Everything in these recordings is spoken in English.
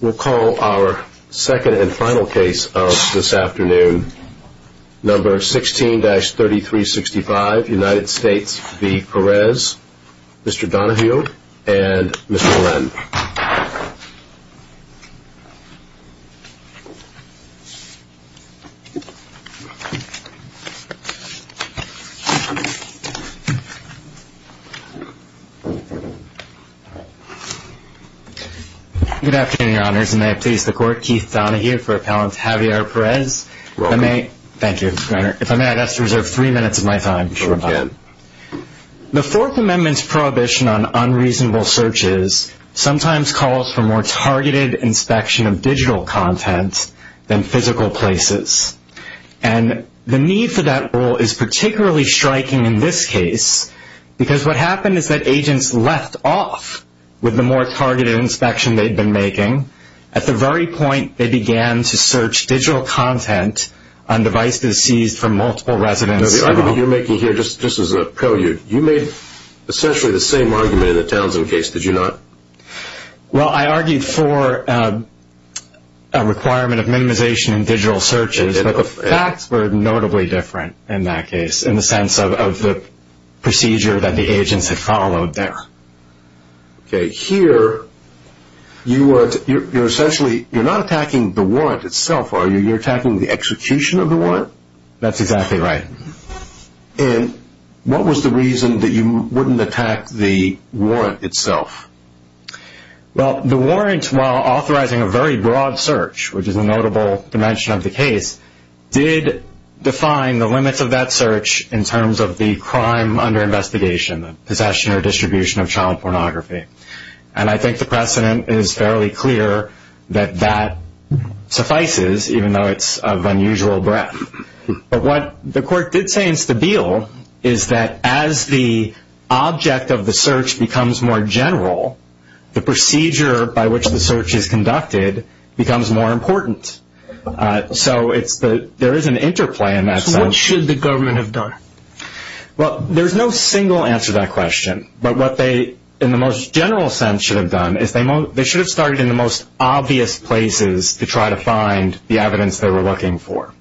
We'll call our second and final case of this afternoon, number 16-3365, United States v. Perez, Mr. Donahue and Mr. Len. Good afternoon, Your Honors, and may I please the Court, Keith Donahue for Appellant Javier Perez. You're welcome. Thank you, Your Honor. If I may, I'd like to reserve three minutes of my time. Sure, again. The Fourth Amendment's prohibition on unreasonable searches sometimes calls for more targeted inspection of digital content than physical places. And the need for that role is particularly striking in this case because what happened is that agents left off with the more targeted inspection they'd been making. At the very point, they began to search digital content on devices seized from multiple residents. The argument you're making here, just as a prelude, you made essentially the same argument in the Townsend case, did you not? Well, I argued for a requirement of minimization in digital searches, but the facts were notably different in that case, in the sense of the procedure that the agents had followed there. Okay, here, you're essentially, you're not attacking the warrant itself, are you? You're attacking the execution of the warrant? That's exactly right. And what was the reason that you wouldn't attack the warrant itself? Well, the warrant, while authorizing a very broad search, which is a notable dimension of the case, did define the limits of that search in terms of the crime under investigation, the possession or distribution of child pornography. And I think the precedent is fairly clear that that suffices, even though it's of unusual breadth. But what the court did say in Stabile is that as the object of the search becomes more general, the procedure by which the search is conducted becomes more important. So there is an interplay in that sense. So what should the government have done? Well, there's no single answer to that question. But what they, in the most general sense, should have done is they should have started in the most obvious places to try to find the evidence they were looking for.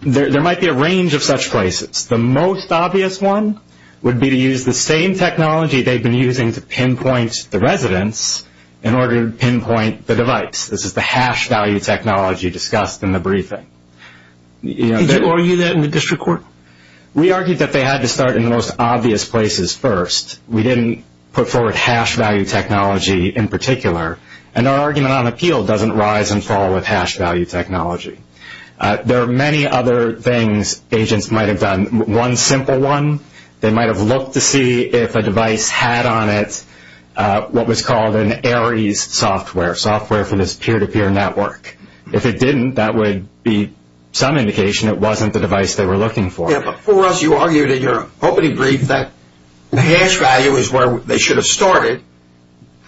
There might be a range of such places. The most obvious one would be to use the same technology they've been using to pinpoint the residents in order to pinpoint the device. This is the hash value technology discussed in the briefing. Did you argue that in the district court? We argued that they had to start in the most obvious places first. We didn't put forward hash value technology in particular. And our argument on appeal doesn't rise and fall with hash value technology. There are many other things agents might have done. One simple one, they might have looked to see if a device had on it what was called an ARIES software, software for this peer-to-peer network. If it didn't, that would be some indication it wasn't the device they were looking for. Yeah, but for us, you argued in your opening brief that the hash value is where they should have started.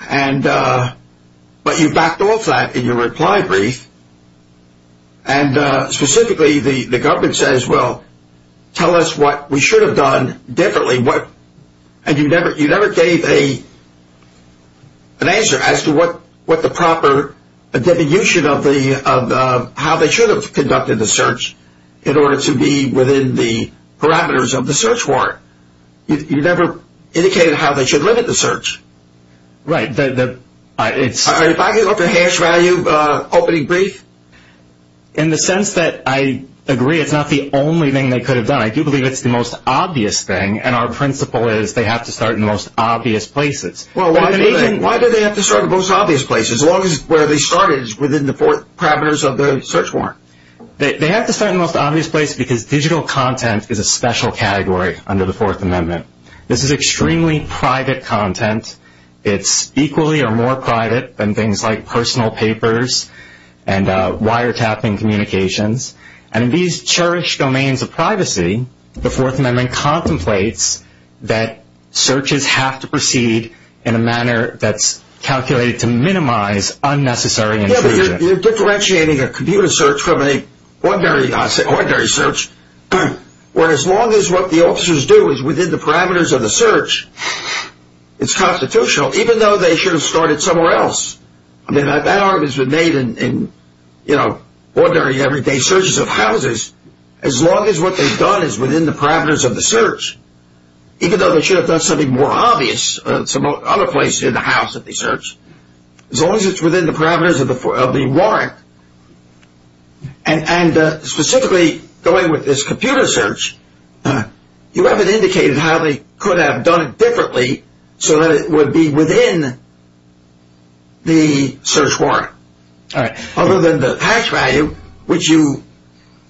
But you backed off that in your reply brief. And specifically, the government says, well, tell us what we should have done differently. And you never gave an answer as to what the proper definition of how they should have conducted the search in order to be within the parameters of the search warrant. You never indicated how they should limit the search. Right. Are you backing off the hash value opening brief? In the sense that I agree it's not the only thing they could have done. I do believe it's the most obvious thing. And our principle is they have to start in the most obvious places. Well, why do they have to start in the most obvious places as long as where they started is within the parameters of the search warrant? They have to start in the most obvious place because digital content is a special category under the Fourth Amendment. This is extremely private content. It's equally or more private than things like personal papers and wiretapping communications. And in these cherished domains of privacy, the Fourth Amendment contemplates that searches have to proceed in a manner that's calculated to minimize unnecessary intrusion. Yeah, but you're differentiating a computer search from an ordinary search where as long as what the officers do is within the parameters of the search, it's constitutional, even though they should have started somewhere else. I mean, that argument's been made in, you know, ordinary everyday searches of houses. As long as what they've done is within the parameters of the search, even though they should have done something more obvious some other place in the house that they searched, as long as it's within the parameters of the warrant. And specifically going with this computer search, you haven't indicated how they could have done it differently so that it would be within the search warrant. Other than the hash value, which you,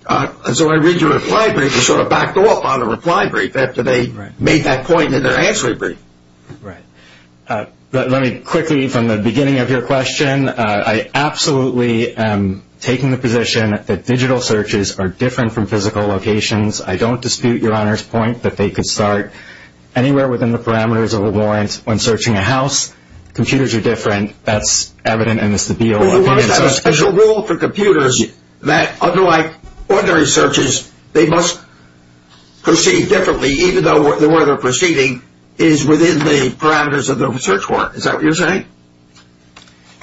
as I read your reply brief, you sort of backed off on the reply brief after they made that point in their answer brief. Right. Let me quickly, from the beginning of your question, I absolutely am taking the position that digital searches are different from physical locations. I don't dispute your Honor's point that they could start anywhere within the parameters of a warrant when searching a house. Computers are different. That's evident in this appeal. In other words, there's a special rule for computers that, unlike ordinary searches, they must proceed differently, even though the way they're proceeding is within the parameters of the search warrant. Is that what you're saying?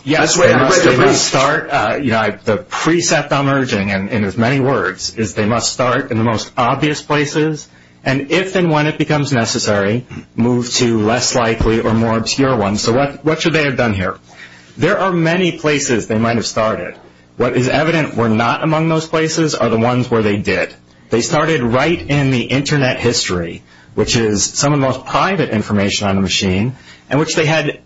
Yes, they must start, you know, the precept I'm urging, in as many words, is they must start in the most obvious places, and if and when it becomes necessary, move to less likely or more obscure ones. So what should they have done here? There are many places they might have started. What is evident were not among those places are the ones where they did. They started right in the Internet history, which is some of the most private information on a machine, and which they had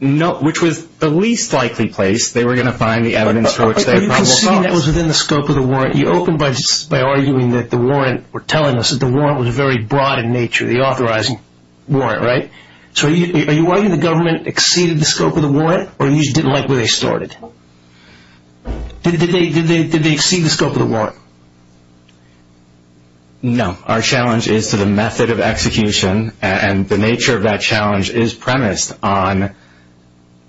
no, which was the least likely place they were going to find the evidence for which they had probable cause. But you conceded that was within the scope of the warrant. You opened by arguing that the warrant, or telling us that the warrant was very broad in nature, the authorizing warrant, right? So are you arguing the government exceeded the scope of the warrant, or you just didn't like where they started? Did they exceed the scope of the warrant? No. Our challenge is to the method of execution, and the nature of that challenge is premised on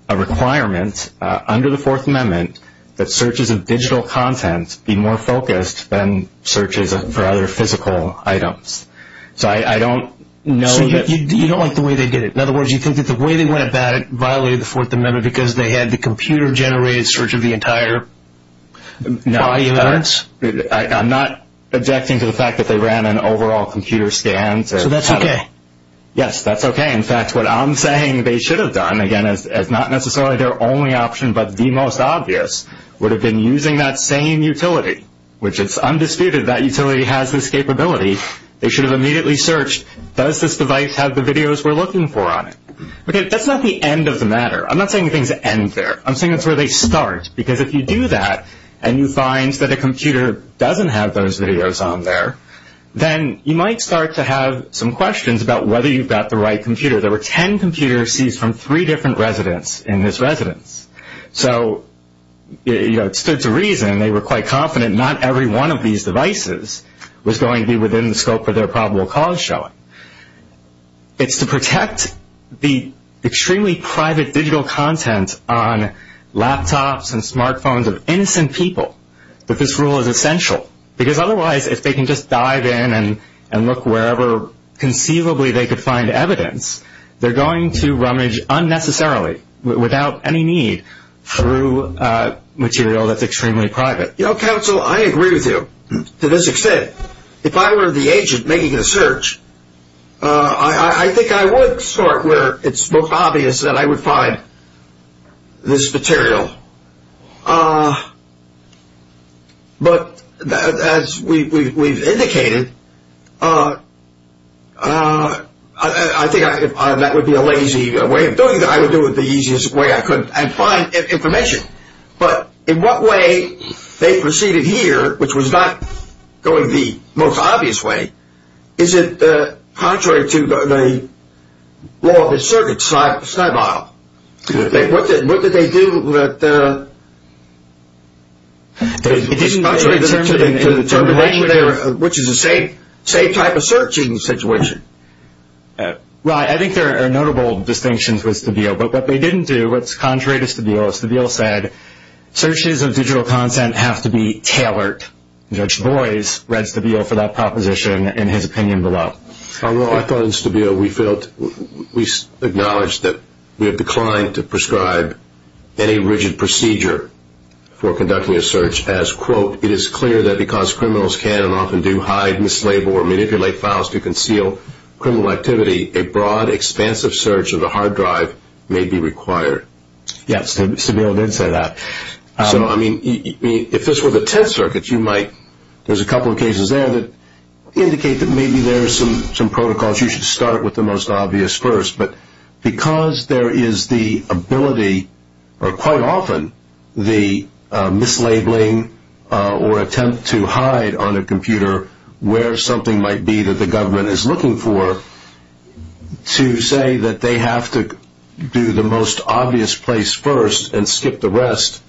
a requirement under the Fourth Amendment that searches of digital content be more focused than searches for other physical items. So I don't know that... So you don't like the way they did it. In other words, you think that the way they went about it violated the Fourth Amendment because they had the computer-generated search of the entire body of evidence? No. I'm not objecting to the fact that they ran an overall computer scan. So that's okay? Yes, that's okay. In fact, what I'm saying they should have done, again, is not necessarily their only option, but the most obvious would have been using that same utility, which it's undisputed that utility has this capability. They should have immediately searched, does this device have the videos we're looking for on it? That's not the end of the matter. I'm not saying things end there. I'm saying that's where they start, because if you do that and you find that a computer doesn't have those videos on there, then you might start to have some questions about whether you've got the right computer. There were ten computers seized from three different residents in this residence. So it stood to reason they were quite confident not every one of these devices was going to be within the scope of their probable cause showing. It's to protect the extremely private digital content on laptops and smartphones of innocent people that this rule is essential, because otherwise if they can just dive in and look wherever conceivably they could find evidence, they're going to rummage unnecessarily, without any need, through material that's extremely private. You know, counsel, I agree with you to this extent. If I were the agent making the search, I think I would start where it's most obvious that I would find this material. But as we've indicated, I think that would be a lazy way of doing it. I would do it the easiest way I could and find information. But in what way they proceeded here, which was not going the most obvious way, is it contrary to the law of the circuit side by side? What did they do? It's contrary to the termination error, which is the same type of search in this situation. Right. I think there are notable distinctions with Stabile. But what they didn't do, what's contrary to Stabile, Stabile said searches of digital content have to be tailored. Judge Boies read Stabile for that proposition in his opinion below. I thought in Stabile we acknowledged that we have declined to prescribe any rigid procedure for conducting a search as, quote, it is clear that because criminals can and often do hide, mislabel, or manipulate files to conceal criminal activity, a broad, expansive search of the hard drive may be required. Yes, Stabile did say that. So, I mean, if this were the Tenth Circuit, you might, there's a couple of cases there that indicate that maybe there are some protocols you should start with the most obvious first. But because there is the ability, or quite often, the mislabeling or attempt to hide on a computer where something might be that the government is looking for, to say that they have to do the most obvious place first and skip the rest,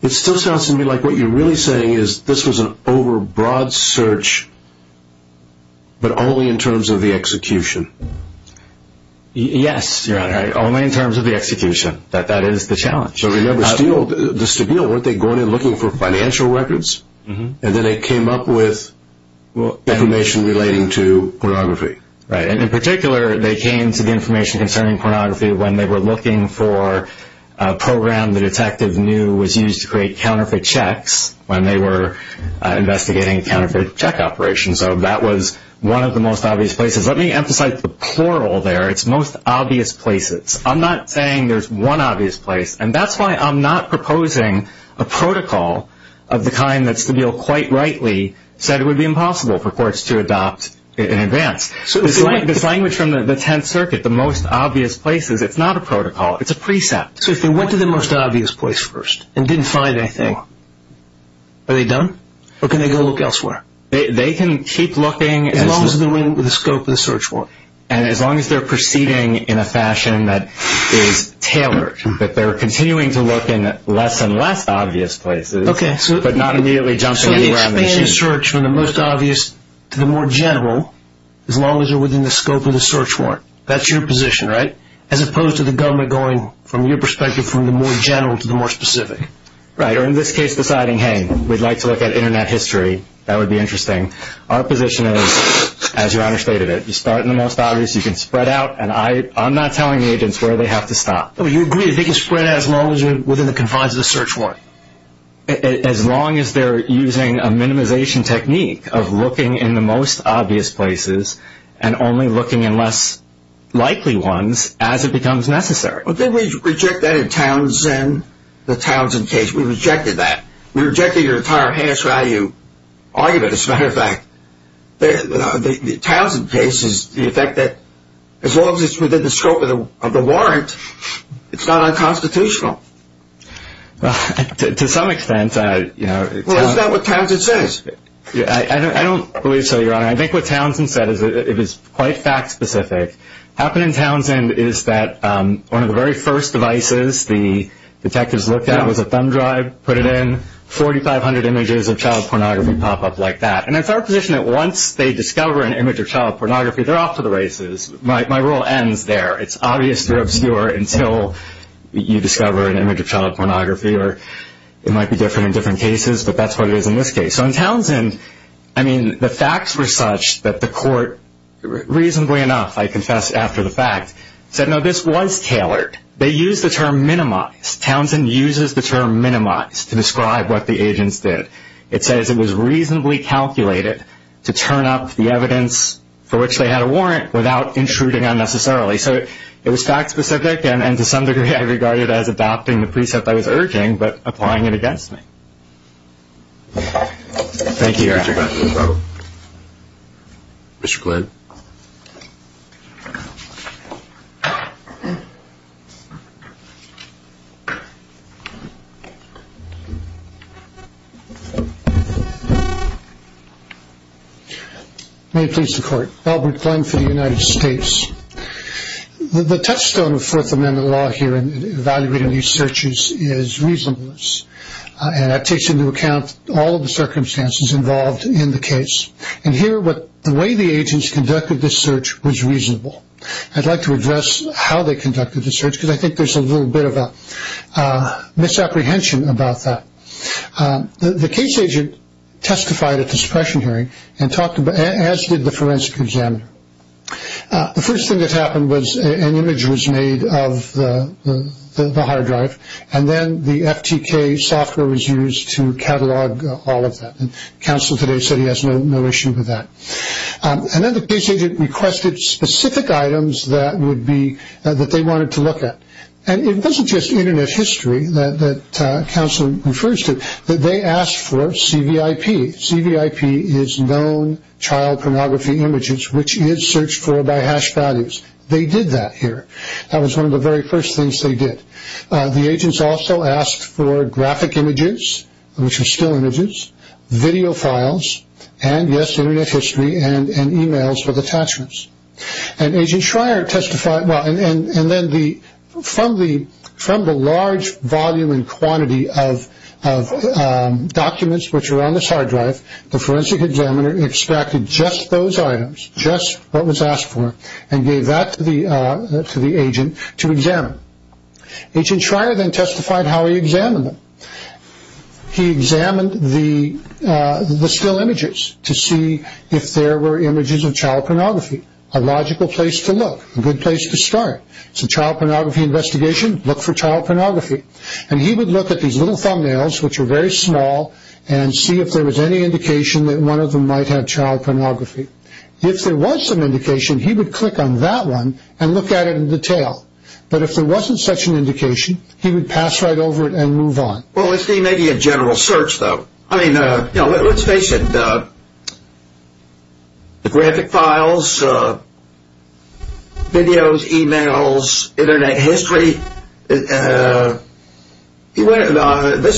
it still sounds to me like what you're really saying is this was an over-broad search, but only in terms of the execution. Yes, Your Honor, only in terms of the execution. That is the challenge. So remember, Stabile, weren't they going and looking for financial records? And then they came up with information relating to pornography. Right, and in particular, they came to the information concerning pornography when they were looking for a program the detective knew was used to create counterfeit checks when they were investigating a counterfeit check operation. So that was one of the most obvious places. Let me emphasize the plural there. It's most obvious places. I'm not saying there's one obvious place, and that's why I'm not proposing a protocol of the kind that Stabile quite rightly said it would be impossible for courts to adopt in advance. This language from the Tenth Circuit, the most obvious places, it's not a protocol. It's a precept. So if they went to the most obvious place first and didn't find anything, are they done? Or can they go look elsewhere? They can keep looking. As long as they're in the scope of the search warrant. And as long as they're proceeding in a fashion that is tailored, that they're continuing to look in less and less obvious places, but not immediately jumping around the machine. They can search from the most obvious to the more general, as long as they're within the scope of the search warrant. That's your position, right? As opposed to the government going, from your perspective, from the more general to the more specific. Right, or in this case deciding, hey, we'd like to look at Internet history. That would be interesting. Our position is, as Your Honor stated it, you start in the most obvious, you can spread out, and I'm not telling the agents where they have to stop. You agree that they can spread out as long as they're within the confines of the search warrant? As long as they're using a minimization technique of looking in the most obvious places and only looking in less likely ones as it becomes necessary. Didn't we reject that in Townsend, the Townsend case? We rejected that. We rejected your entire hash value argument. As a matter of fact, the Townsend case is the effect that, as long as it's within the scope of the warrant, it's not unconstitutional. To some extent. Well, isn't that what Townsend says? I don't believe so, Your Honor. I think what Townsend said is quite fact-specific. What happened in Townsend is that one of the very first devices the detectives looked at was a thumb drive, put it in, 4,500 images of child pornography pop up like that. And it's our position that once they discover an image of child pornography, they're off to the races. My role ends there. It's obvious they're obscure until you discover an image of child pornography. It might be different in different cases, but that's what it is in this case. So in Townsend, I mean, the facts were such that the court, reasonably enough, I confess, after the fact, said, no, this was tailored. They used the term minimize. Townsend uses the term minimize to describe what the agents did. It says it was reasonably calculated to turn up the evidence for which they had a warrant without intruding unnecessarily. So it was fact-specific, and to some degree I regarded it as adopting the precept I was urging but applying it against me. Thank you, Your Honor. Mr. Glenn. May it please the Court. Albert Glenn for the United States. The touchstone of Fourth Amendment law here in evaluating these searches is reasonableness, and that takes into account all of the circumstances involved in the case. And here, the way the agents conducted this search was reasonable. I'd like to address how they conducted the search, because I think there's a little bit of a misapprehension about that. The case agent testified at the suppression hearing, as did the forensic examiner. The first thing that happened was an image was made of the hard drive, and then the FTK software was used to catalog all of that. Counsel today said he has no issue with that. And then the case agent requested specific items that they wanted to look at. And it wasn't just Internet history that counsel refers to. They asked for CVIP. CVIP is known child pornography images, which is searched for by hash values. They did that here. That was one of the very first things they did. The agents also asked for graphic images, which are still images, video files, and, yes, Internet history and e-mails with attachments. And then from the large volume and quantity of documents which are on this hard drive, the forensic examiner extracted just those items, just what was asked for, and gave that to the agent to examine. Agent Schreier then testified how he examined them. He examined the still images to see if there were images of child pornography. A logical place to look, a good place to start. It's a child pornography investigation. Look for child pornography. And he would look at these little thumbnails, which are very small, and see if there was any indication that one of them might have child pornography. If there was some indication, he would click on that one and look at it in detail. But if there wasn't such an indication, he would pass right over it and move on. Well, isn't he making a general search, though? I mean, you know, let's face it. The graphic files, videos, e-mails, Internet history, this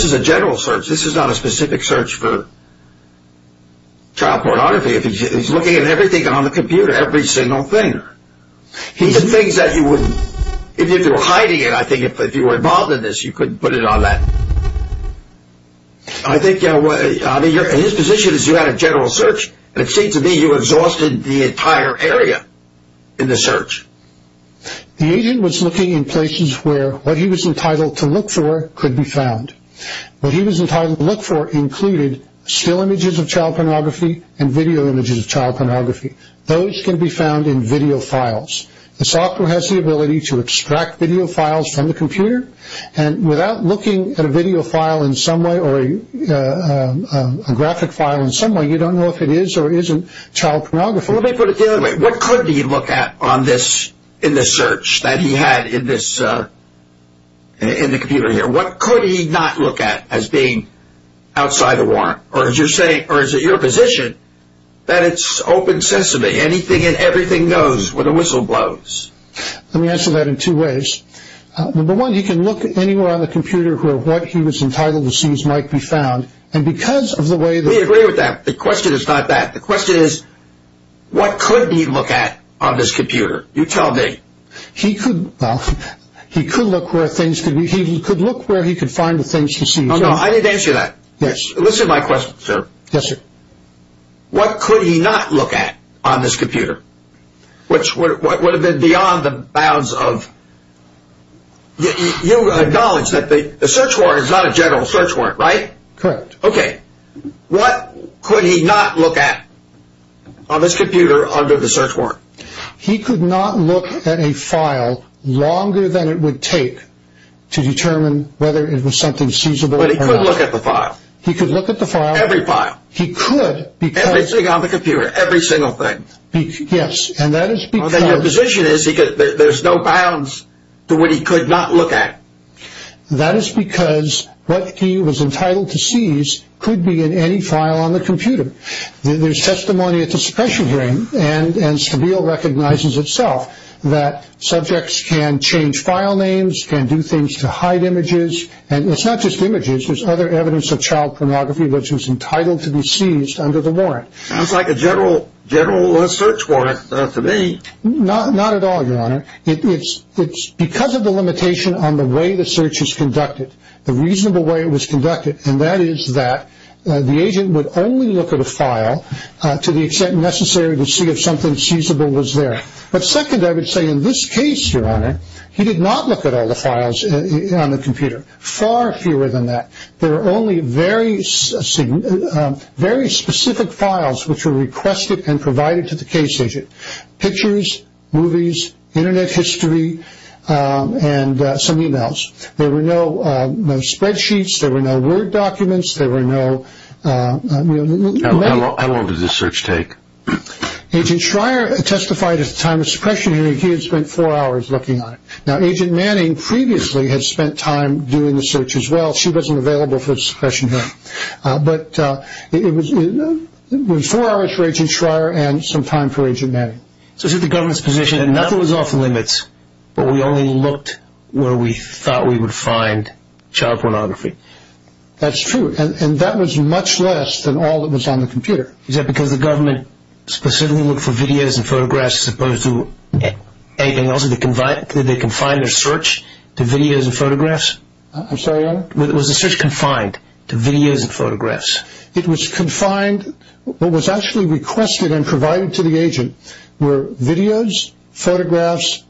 is a general search. This is not a specific search for child pornography. He's looking at everything on the computer, every single thing. These are things that you wouldn't, if you were hiding it, I think, if you were involved in this, you couldn't put it on that. I think, you know, his position is you had a general search, and it seemed to me you exhausted the entire area in the search. The agent was looking in places where what he was entitled to look for could be found. What he was entitled to look for included still images of child pornography and video images of child pornography. Those can be found in video files. The software has the ability to extract video files from the computer, and without looking at a video file in some way or a graphic file in some way, you don't know if it is or isn't child pornography. Let me put it the other way. What could he look at in this search that he had in the computer here? What could he not look at as being outside the warrant? Or is it your position that it's open sesame? Anything and everything goes when the whistle blows? Let me answer that in two ways. Number one, he can look anywhere on the computer where what he was entitled to see might be found, and because of the way that… We agree with that. The question is not that. The question is what could he look at on this computer? You tell me. He could look where things could be. He could look where he could find the things he sees. Oh, no. I didn't answer that. Yes. Listen to my question, sir. Yes, sir. What could he not look at on this computer, which would have been beyond the bounds of… You acknowledge that the search warrant is not a general search warrant, right? Correct. Okay. What could he not look at on this computer under the search warrant? He could not look at a file longer than it would take to determine whether it was something seizable or not. But he could look at the file. He could look at the file. Every file. He could because… Everything on the computer. Every single thing. Yes, and that is because… Okay. Your position is there's no bounds to what he could not look at. That is because what he was entitled to see could be in any file on the computer. There's testimony at the suppression hearing, and Stabile recognizes itself that subjects can change file names, can do things to hide images. And it's not just images. There's other evidence of child pornography which was entitled to be seized under the warrant. It's like a general search warrant to me. Not at all, Your Honor. It's because of the limitation on the way the search is conducted, the reasonable way it was conducted, and that is that the agent would only look at a file to the extent necessary to see if something seizable was there. But second, I would say in this case, Your Honor, he did not look at all the files on the computer. Far fewer than that. There were only very specific files which were requested and provided to the case agent. Pictures, movies, Internet history, and some e-mails. There were no spreadsheets. There were no Word documents. There were no… How long did this search take? Agent Schreier testified at the time of suppression hearing he had spent four hours looking on it. Now, Agent Manning previously had spent time doing the search as well. She wasn't available for the suppression hearing. But it was four hours for Agent Schreier and some time for Agent Manning. So this is the government's position that nothing was off limits, but we only looked where we thought we would find child pornography. That's true, and that was much less than all that was on the computer. Is that because the government specifically looked for videos and photographs as opposed to anything else? Did they confine their search to videos and photographs? I'm sorry, Your Honor? Was the search confined to videos and photographs? It was confined. What was actually requested and provided to the agent were videos, photographs,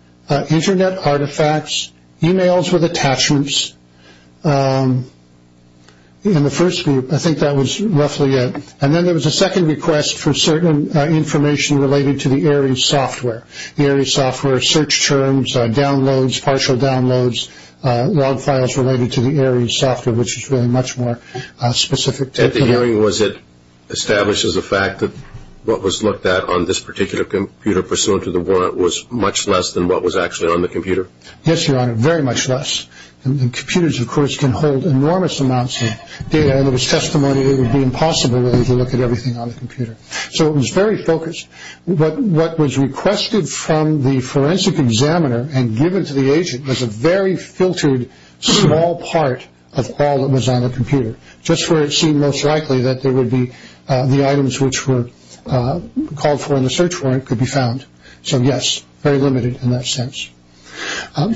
Internet artifacts, e-mails with attachments in the first group. I think that was roughly it. And then there was a second request for certain information related to the ARIES software, the ARIES software search terms, downloads, partial downloads, log files related to the ARIES software, which is really much more specific. At the hearing was it established as a fact that what was looked at on this particular computer pursuant to the warrant was much less than what was actually on the computer? Yes, Your Honor, very much less. Computers, of course, can hold enormous amounts of data, and there was testimony that it would be impossible to look at everything on the computer. So it was very focused. But what was requested from the forensic examiner and given to the agent was a very filtered small part of all that was on the computer, just where it seemed most likely that the items which were called for in the search warrant could be found. So, yes, very limited in that sense.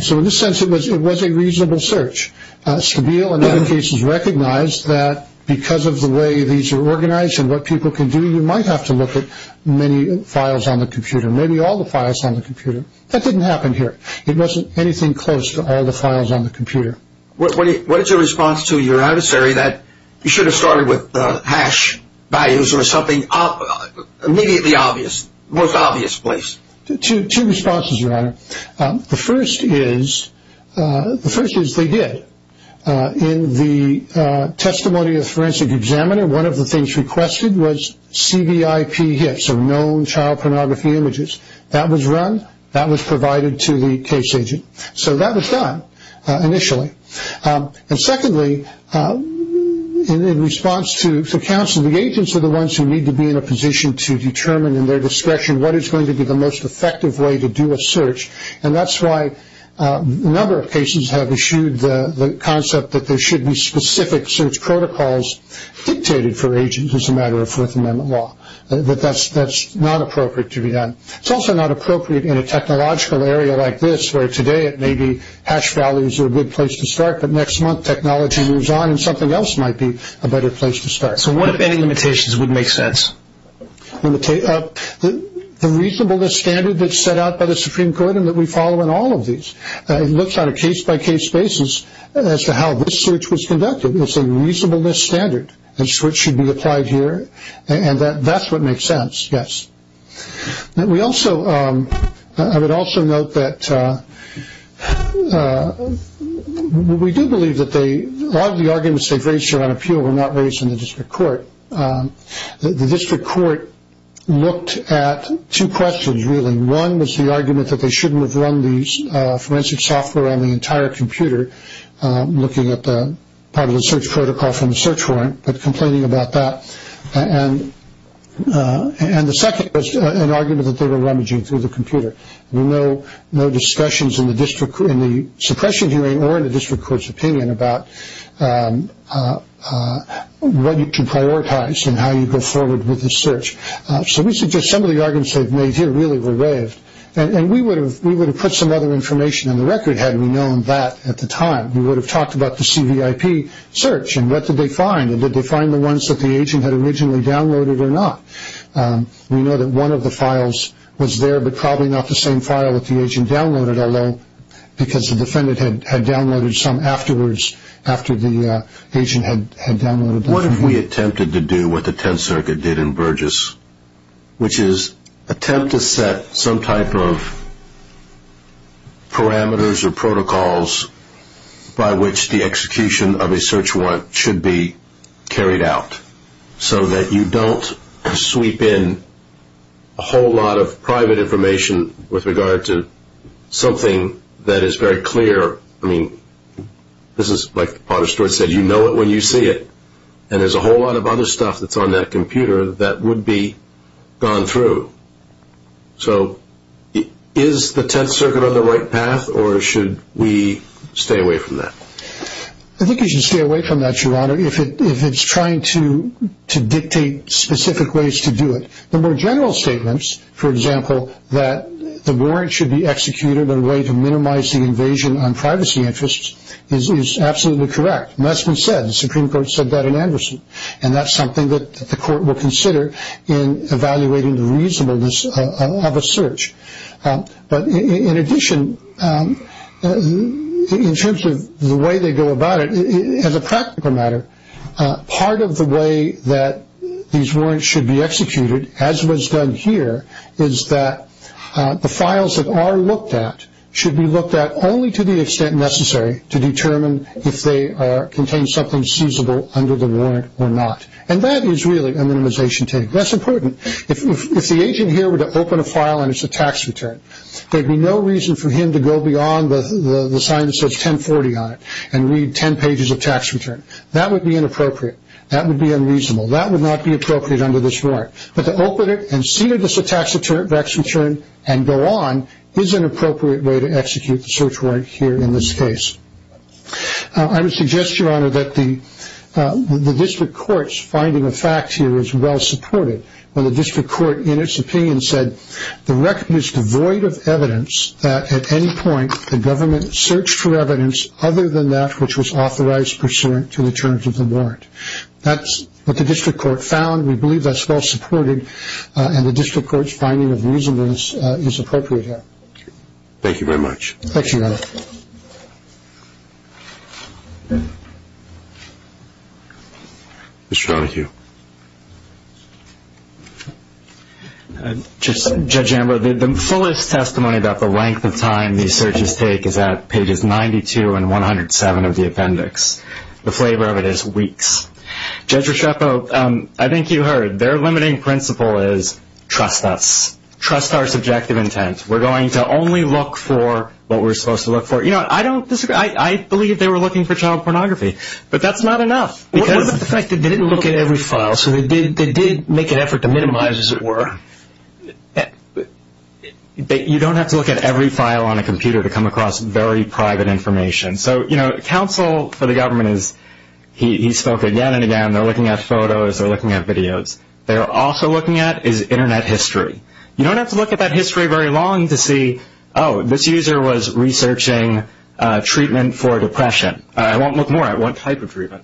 So in this sense it was a reasonable search. Stabile, in other cases, recognized that because of the way these are organized and what people can do you might have to look at many files on the computer, maybe all the files on the computer. That didn't happen here. It wasn't anything close to all the files on the computer. What is your response to your adversary that you should have started with hash values Two responses, Your Honor. The first is they did. In the testimony of the forensic examiner, one of the things requested was CBIP hits, so known child pornography images. That was run. That was provided to the case agent. So that was done initially. And secondly, in response to counsel, the agents are the ones who need to be in a position to determine in their discretion what is going to be the most effective way to do a search. And that's why a number of cases have issued the concept that there should be specific search protocols dictated for agents as a matter of Fourth Amendment law. That's not appropriate to be done. It's also not appropriate in a technological area like this where today it may be hash values are a good place to start, but next month technology moves on and something else might be a better place to start. So what if any limitations would make sense? The reasonableness standard that's set out by the Supreme Court and that we follow in all of these. It looks on a case-by-case basis as to how this search was conducted. It's a reasonableness standard, which should be applied here, and that's what makes sense, yes. I would also note that we do believe that a lot of the arguments they've raised here on appeal were not raised in the district court. The district court looked at two questions, really. One was the argument that they shouldn't have run these forensic software on the entire computer, looking at part of the search protocol from the search warrant, but complaining about that. And the second was an argument that they were rummaging through the computer. There were no discussions in the suppression hearing or in the district court's opinion about what to prioritize and how you go forward with the search. So we suggest some of the arguments they've made here really were raised, and we would have put some other information on the record had we known that at the time. We would have talked about the CVIP search and what did they find, and did they find the ones that the agent had originally downloaded or not. We know that one of the files was there, but probably not the same file that the agent downloaded, although because the defendant had downloaded some afterwards, after the agent had downloaded the CVIP. What if we attempted to do what the Tenth Circuit did in Burgess, which is attempt to set some type of parameters or protocols by which the execution of a search warrant should be carried out, so that you don't sweep in a whole lot of private information with regard to something that is very clear. I mean, this is like Potter Stewart said, you know it when you see it, and there's a whole lot of other stuff that's on that computer that would be gone through. So is the Tenth Circuit on the right path, or should we stay away from that? I think you should stay away from that, Your Honor, if it's trying to dictate specific ways to do it. The more general statements, for example, that the warrant should be executed in a way to minimize the invasion on privacy interests, is absolutely correct, and that's been said. The Supreme Court said that in Anderson, and that's something that the court will consider in evaluating the reasonableness of a search. But in addition, in terms of the way they go about it, as a practical matter, part of the way that these warrants should be executed, as was done here, is that the files that are looked at should be looked at only to the extent necessary to determine if they contain something seizable under the warrant or not. And that is really a minimization take. That's important. If the agent here were to open a file and it's a tax return, there would be no reason for him to go beyond the sign that says 1040 on it and read 10 pages of tax return. That would be inappropriate. That would be unreasonable. That would not be appropriate under this warrant. But to open it and see that it's a tax return and go on, is an appropriate way to execute the search warrant here in this case. I would suggest, Your Honor, that the district court's finding of facts here is well supported. When the district court, in its opinion, said the record is devoid of evidence that at any point the government searched for evidence other than that which was authorized pursuant to the terms of the warrant. That's what the district court found. We believe that's well supported, and the district court's finding of reasonableness is appropriate here. Thank you very much. Thank you, Your Honor. Mr. Donohue. Judge Amber, the fullest testimony about the length of time these searches take is at pages 92 and 107 of the appendix. The flavor of it is weeks. Judge Rusceppo, I think you heard. Their limiting principle is trust us. Trust our subjective intent. We're going to only look for what we're supposed to look for. You know, I don't disagree. I believe they were looking for child pornography, but that's not enough. What about the fact that they didn't look at every file? So they did make an effort to minimize, as it were. You don't have to look at every file on a computer to come across very private information. So, you know, counsel for the government is he spoke again and again. They're looking at photos. They're looking at videos. They're also looking at is Internet history. You don't have to look at that history very long to see, oh, this user was researching treatment for depression. I won't look more. I won't type of treatment.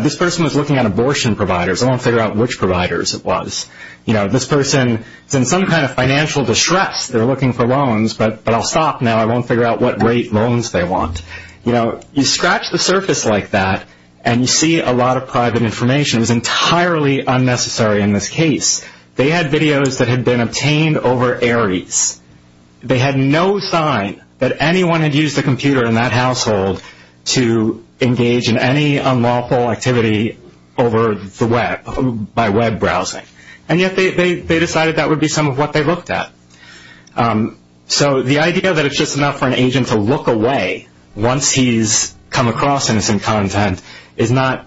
This person was looking at abortion providers. I won't figure out which providers it was. You know, this person is in some kind of financial distress. They're looking for loans, but I'll stop now. I won't figure out what rate loans they want. You know, you scratch the surface like that and you see a lot of private information. It was entirely unnecessary in this case. They had videos that had been obtained over Aries. They had no sign that anyone had used a computer in that household to engage in any unlawful activity over the web by web browsing. And yet they decided that would be some of what they looked at. So the idea that it's just enough for an agent to look away once he's come across innocent content is not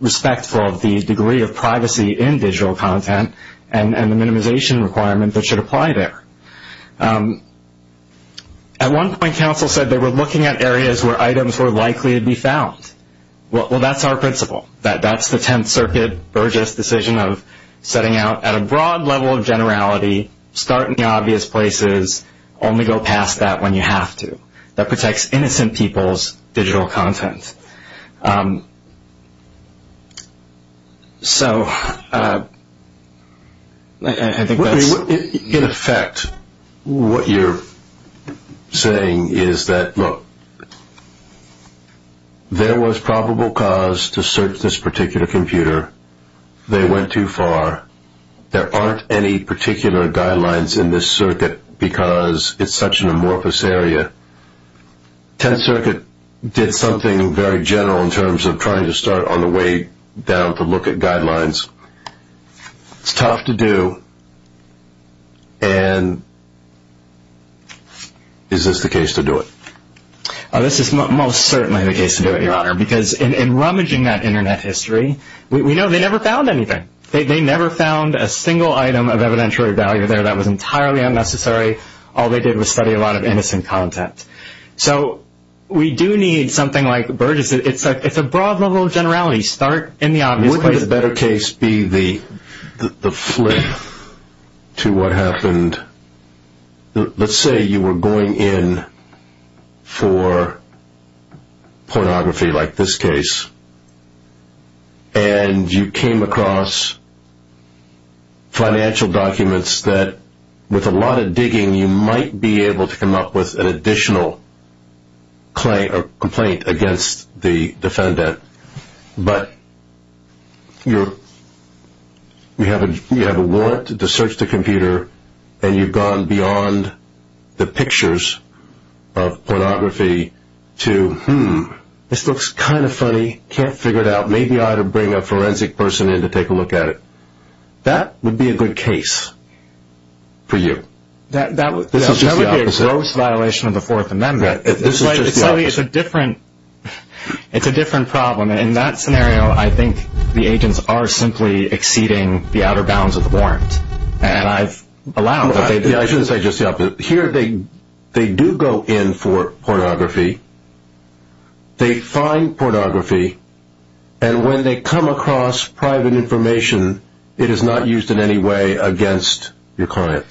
respectful of the degree of privacy in digital content and the minimization requirement that should apply there. At one point, counsel said they were looking at areas where items were likely to be found. Well, that's our principle. That's the Tenth Circuit, Burgess decision of setting out at a broad level of generality, start in the obvious places, only go past that when you have to. That protects innocent people's digital content. So I think that's... In effect, what you're saying is that, look, there was probable cause to search this particular computer. They went too far. There aren't any particular guidelines in this circuit because it's such an amorphous area. Tenth Circuit did something very general in terms of trying to start on the way down to look at guidelines. It's tough to do. And is this the case to do it? This is most certainly the case to do it, Your Honor, because in rummaging that Internet history, we know they never found anything. They never found a single item of evidentiary value there that was entirely unnecessary. All they did was study a lot of innocent content. So we do need something like Burgess. It's a broad level of generality. Start in the obvious places. Wouldn't a better case be the flip to what happened... Let's say you were going in for pornography like this case, and you came across financial documents that, with a lot of digging, you might be able to come up with an additional complaint against the defendant. But you have a warrant to search the computer, and you've gone beyond the pictures of pornography to, hmm, this looks kind of funny. Can't figure it out. Maybe I ought to bring a forensic person in to take a look at it. That would be a good case for you. That would be a gross violation of the Fourth Amendment. This is just the opposite. It's a different problem. In that scenario, I think the agents are simply exceeding the outer bounds of the warrant. And I've allowed that they do that. I shouldn't say just the opposite. Here they do go in for pornography. They find pornography. And when they come across private information, it is not used in any way against your client.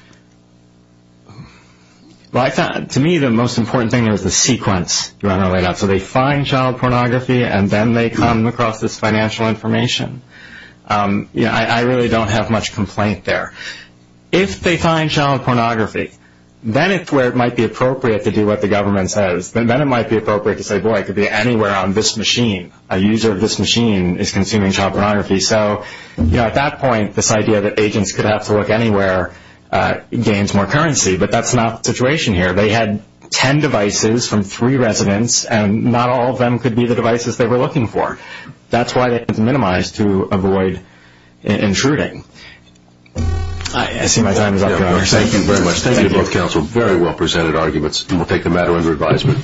To me, the most important thing is the sequence. So they find child pornography, and then they come across this financial information. I really don't have much complaint there. If they find child pornography, then it's where it might be appropriate to do what the government says. Then it might be appropriate to say, boy, it could be anywhere on this machine. A user of this machine is consuming child pornography. So, you know, at that point, this idea that agents could have to look anywhere gains more currency. But that's not the situation here. They had ten devices from three residents, and not all of them could be the devices they were looking for. That's why they have to minimize to avoid intruding. I see my time is up, Governor. Thank you very much. Thank you to both counsel. Very well presented arguments. We'll take the matter under advisement.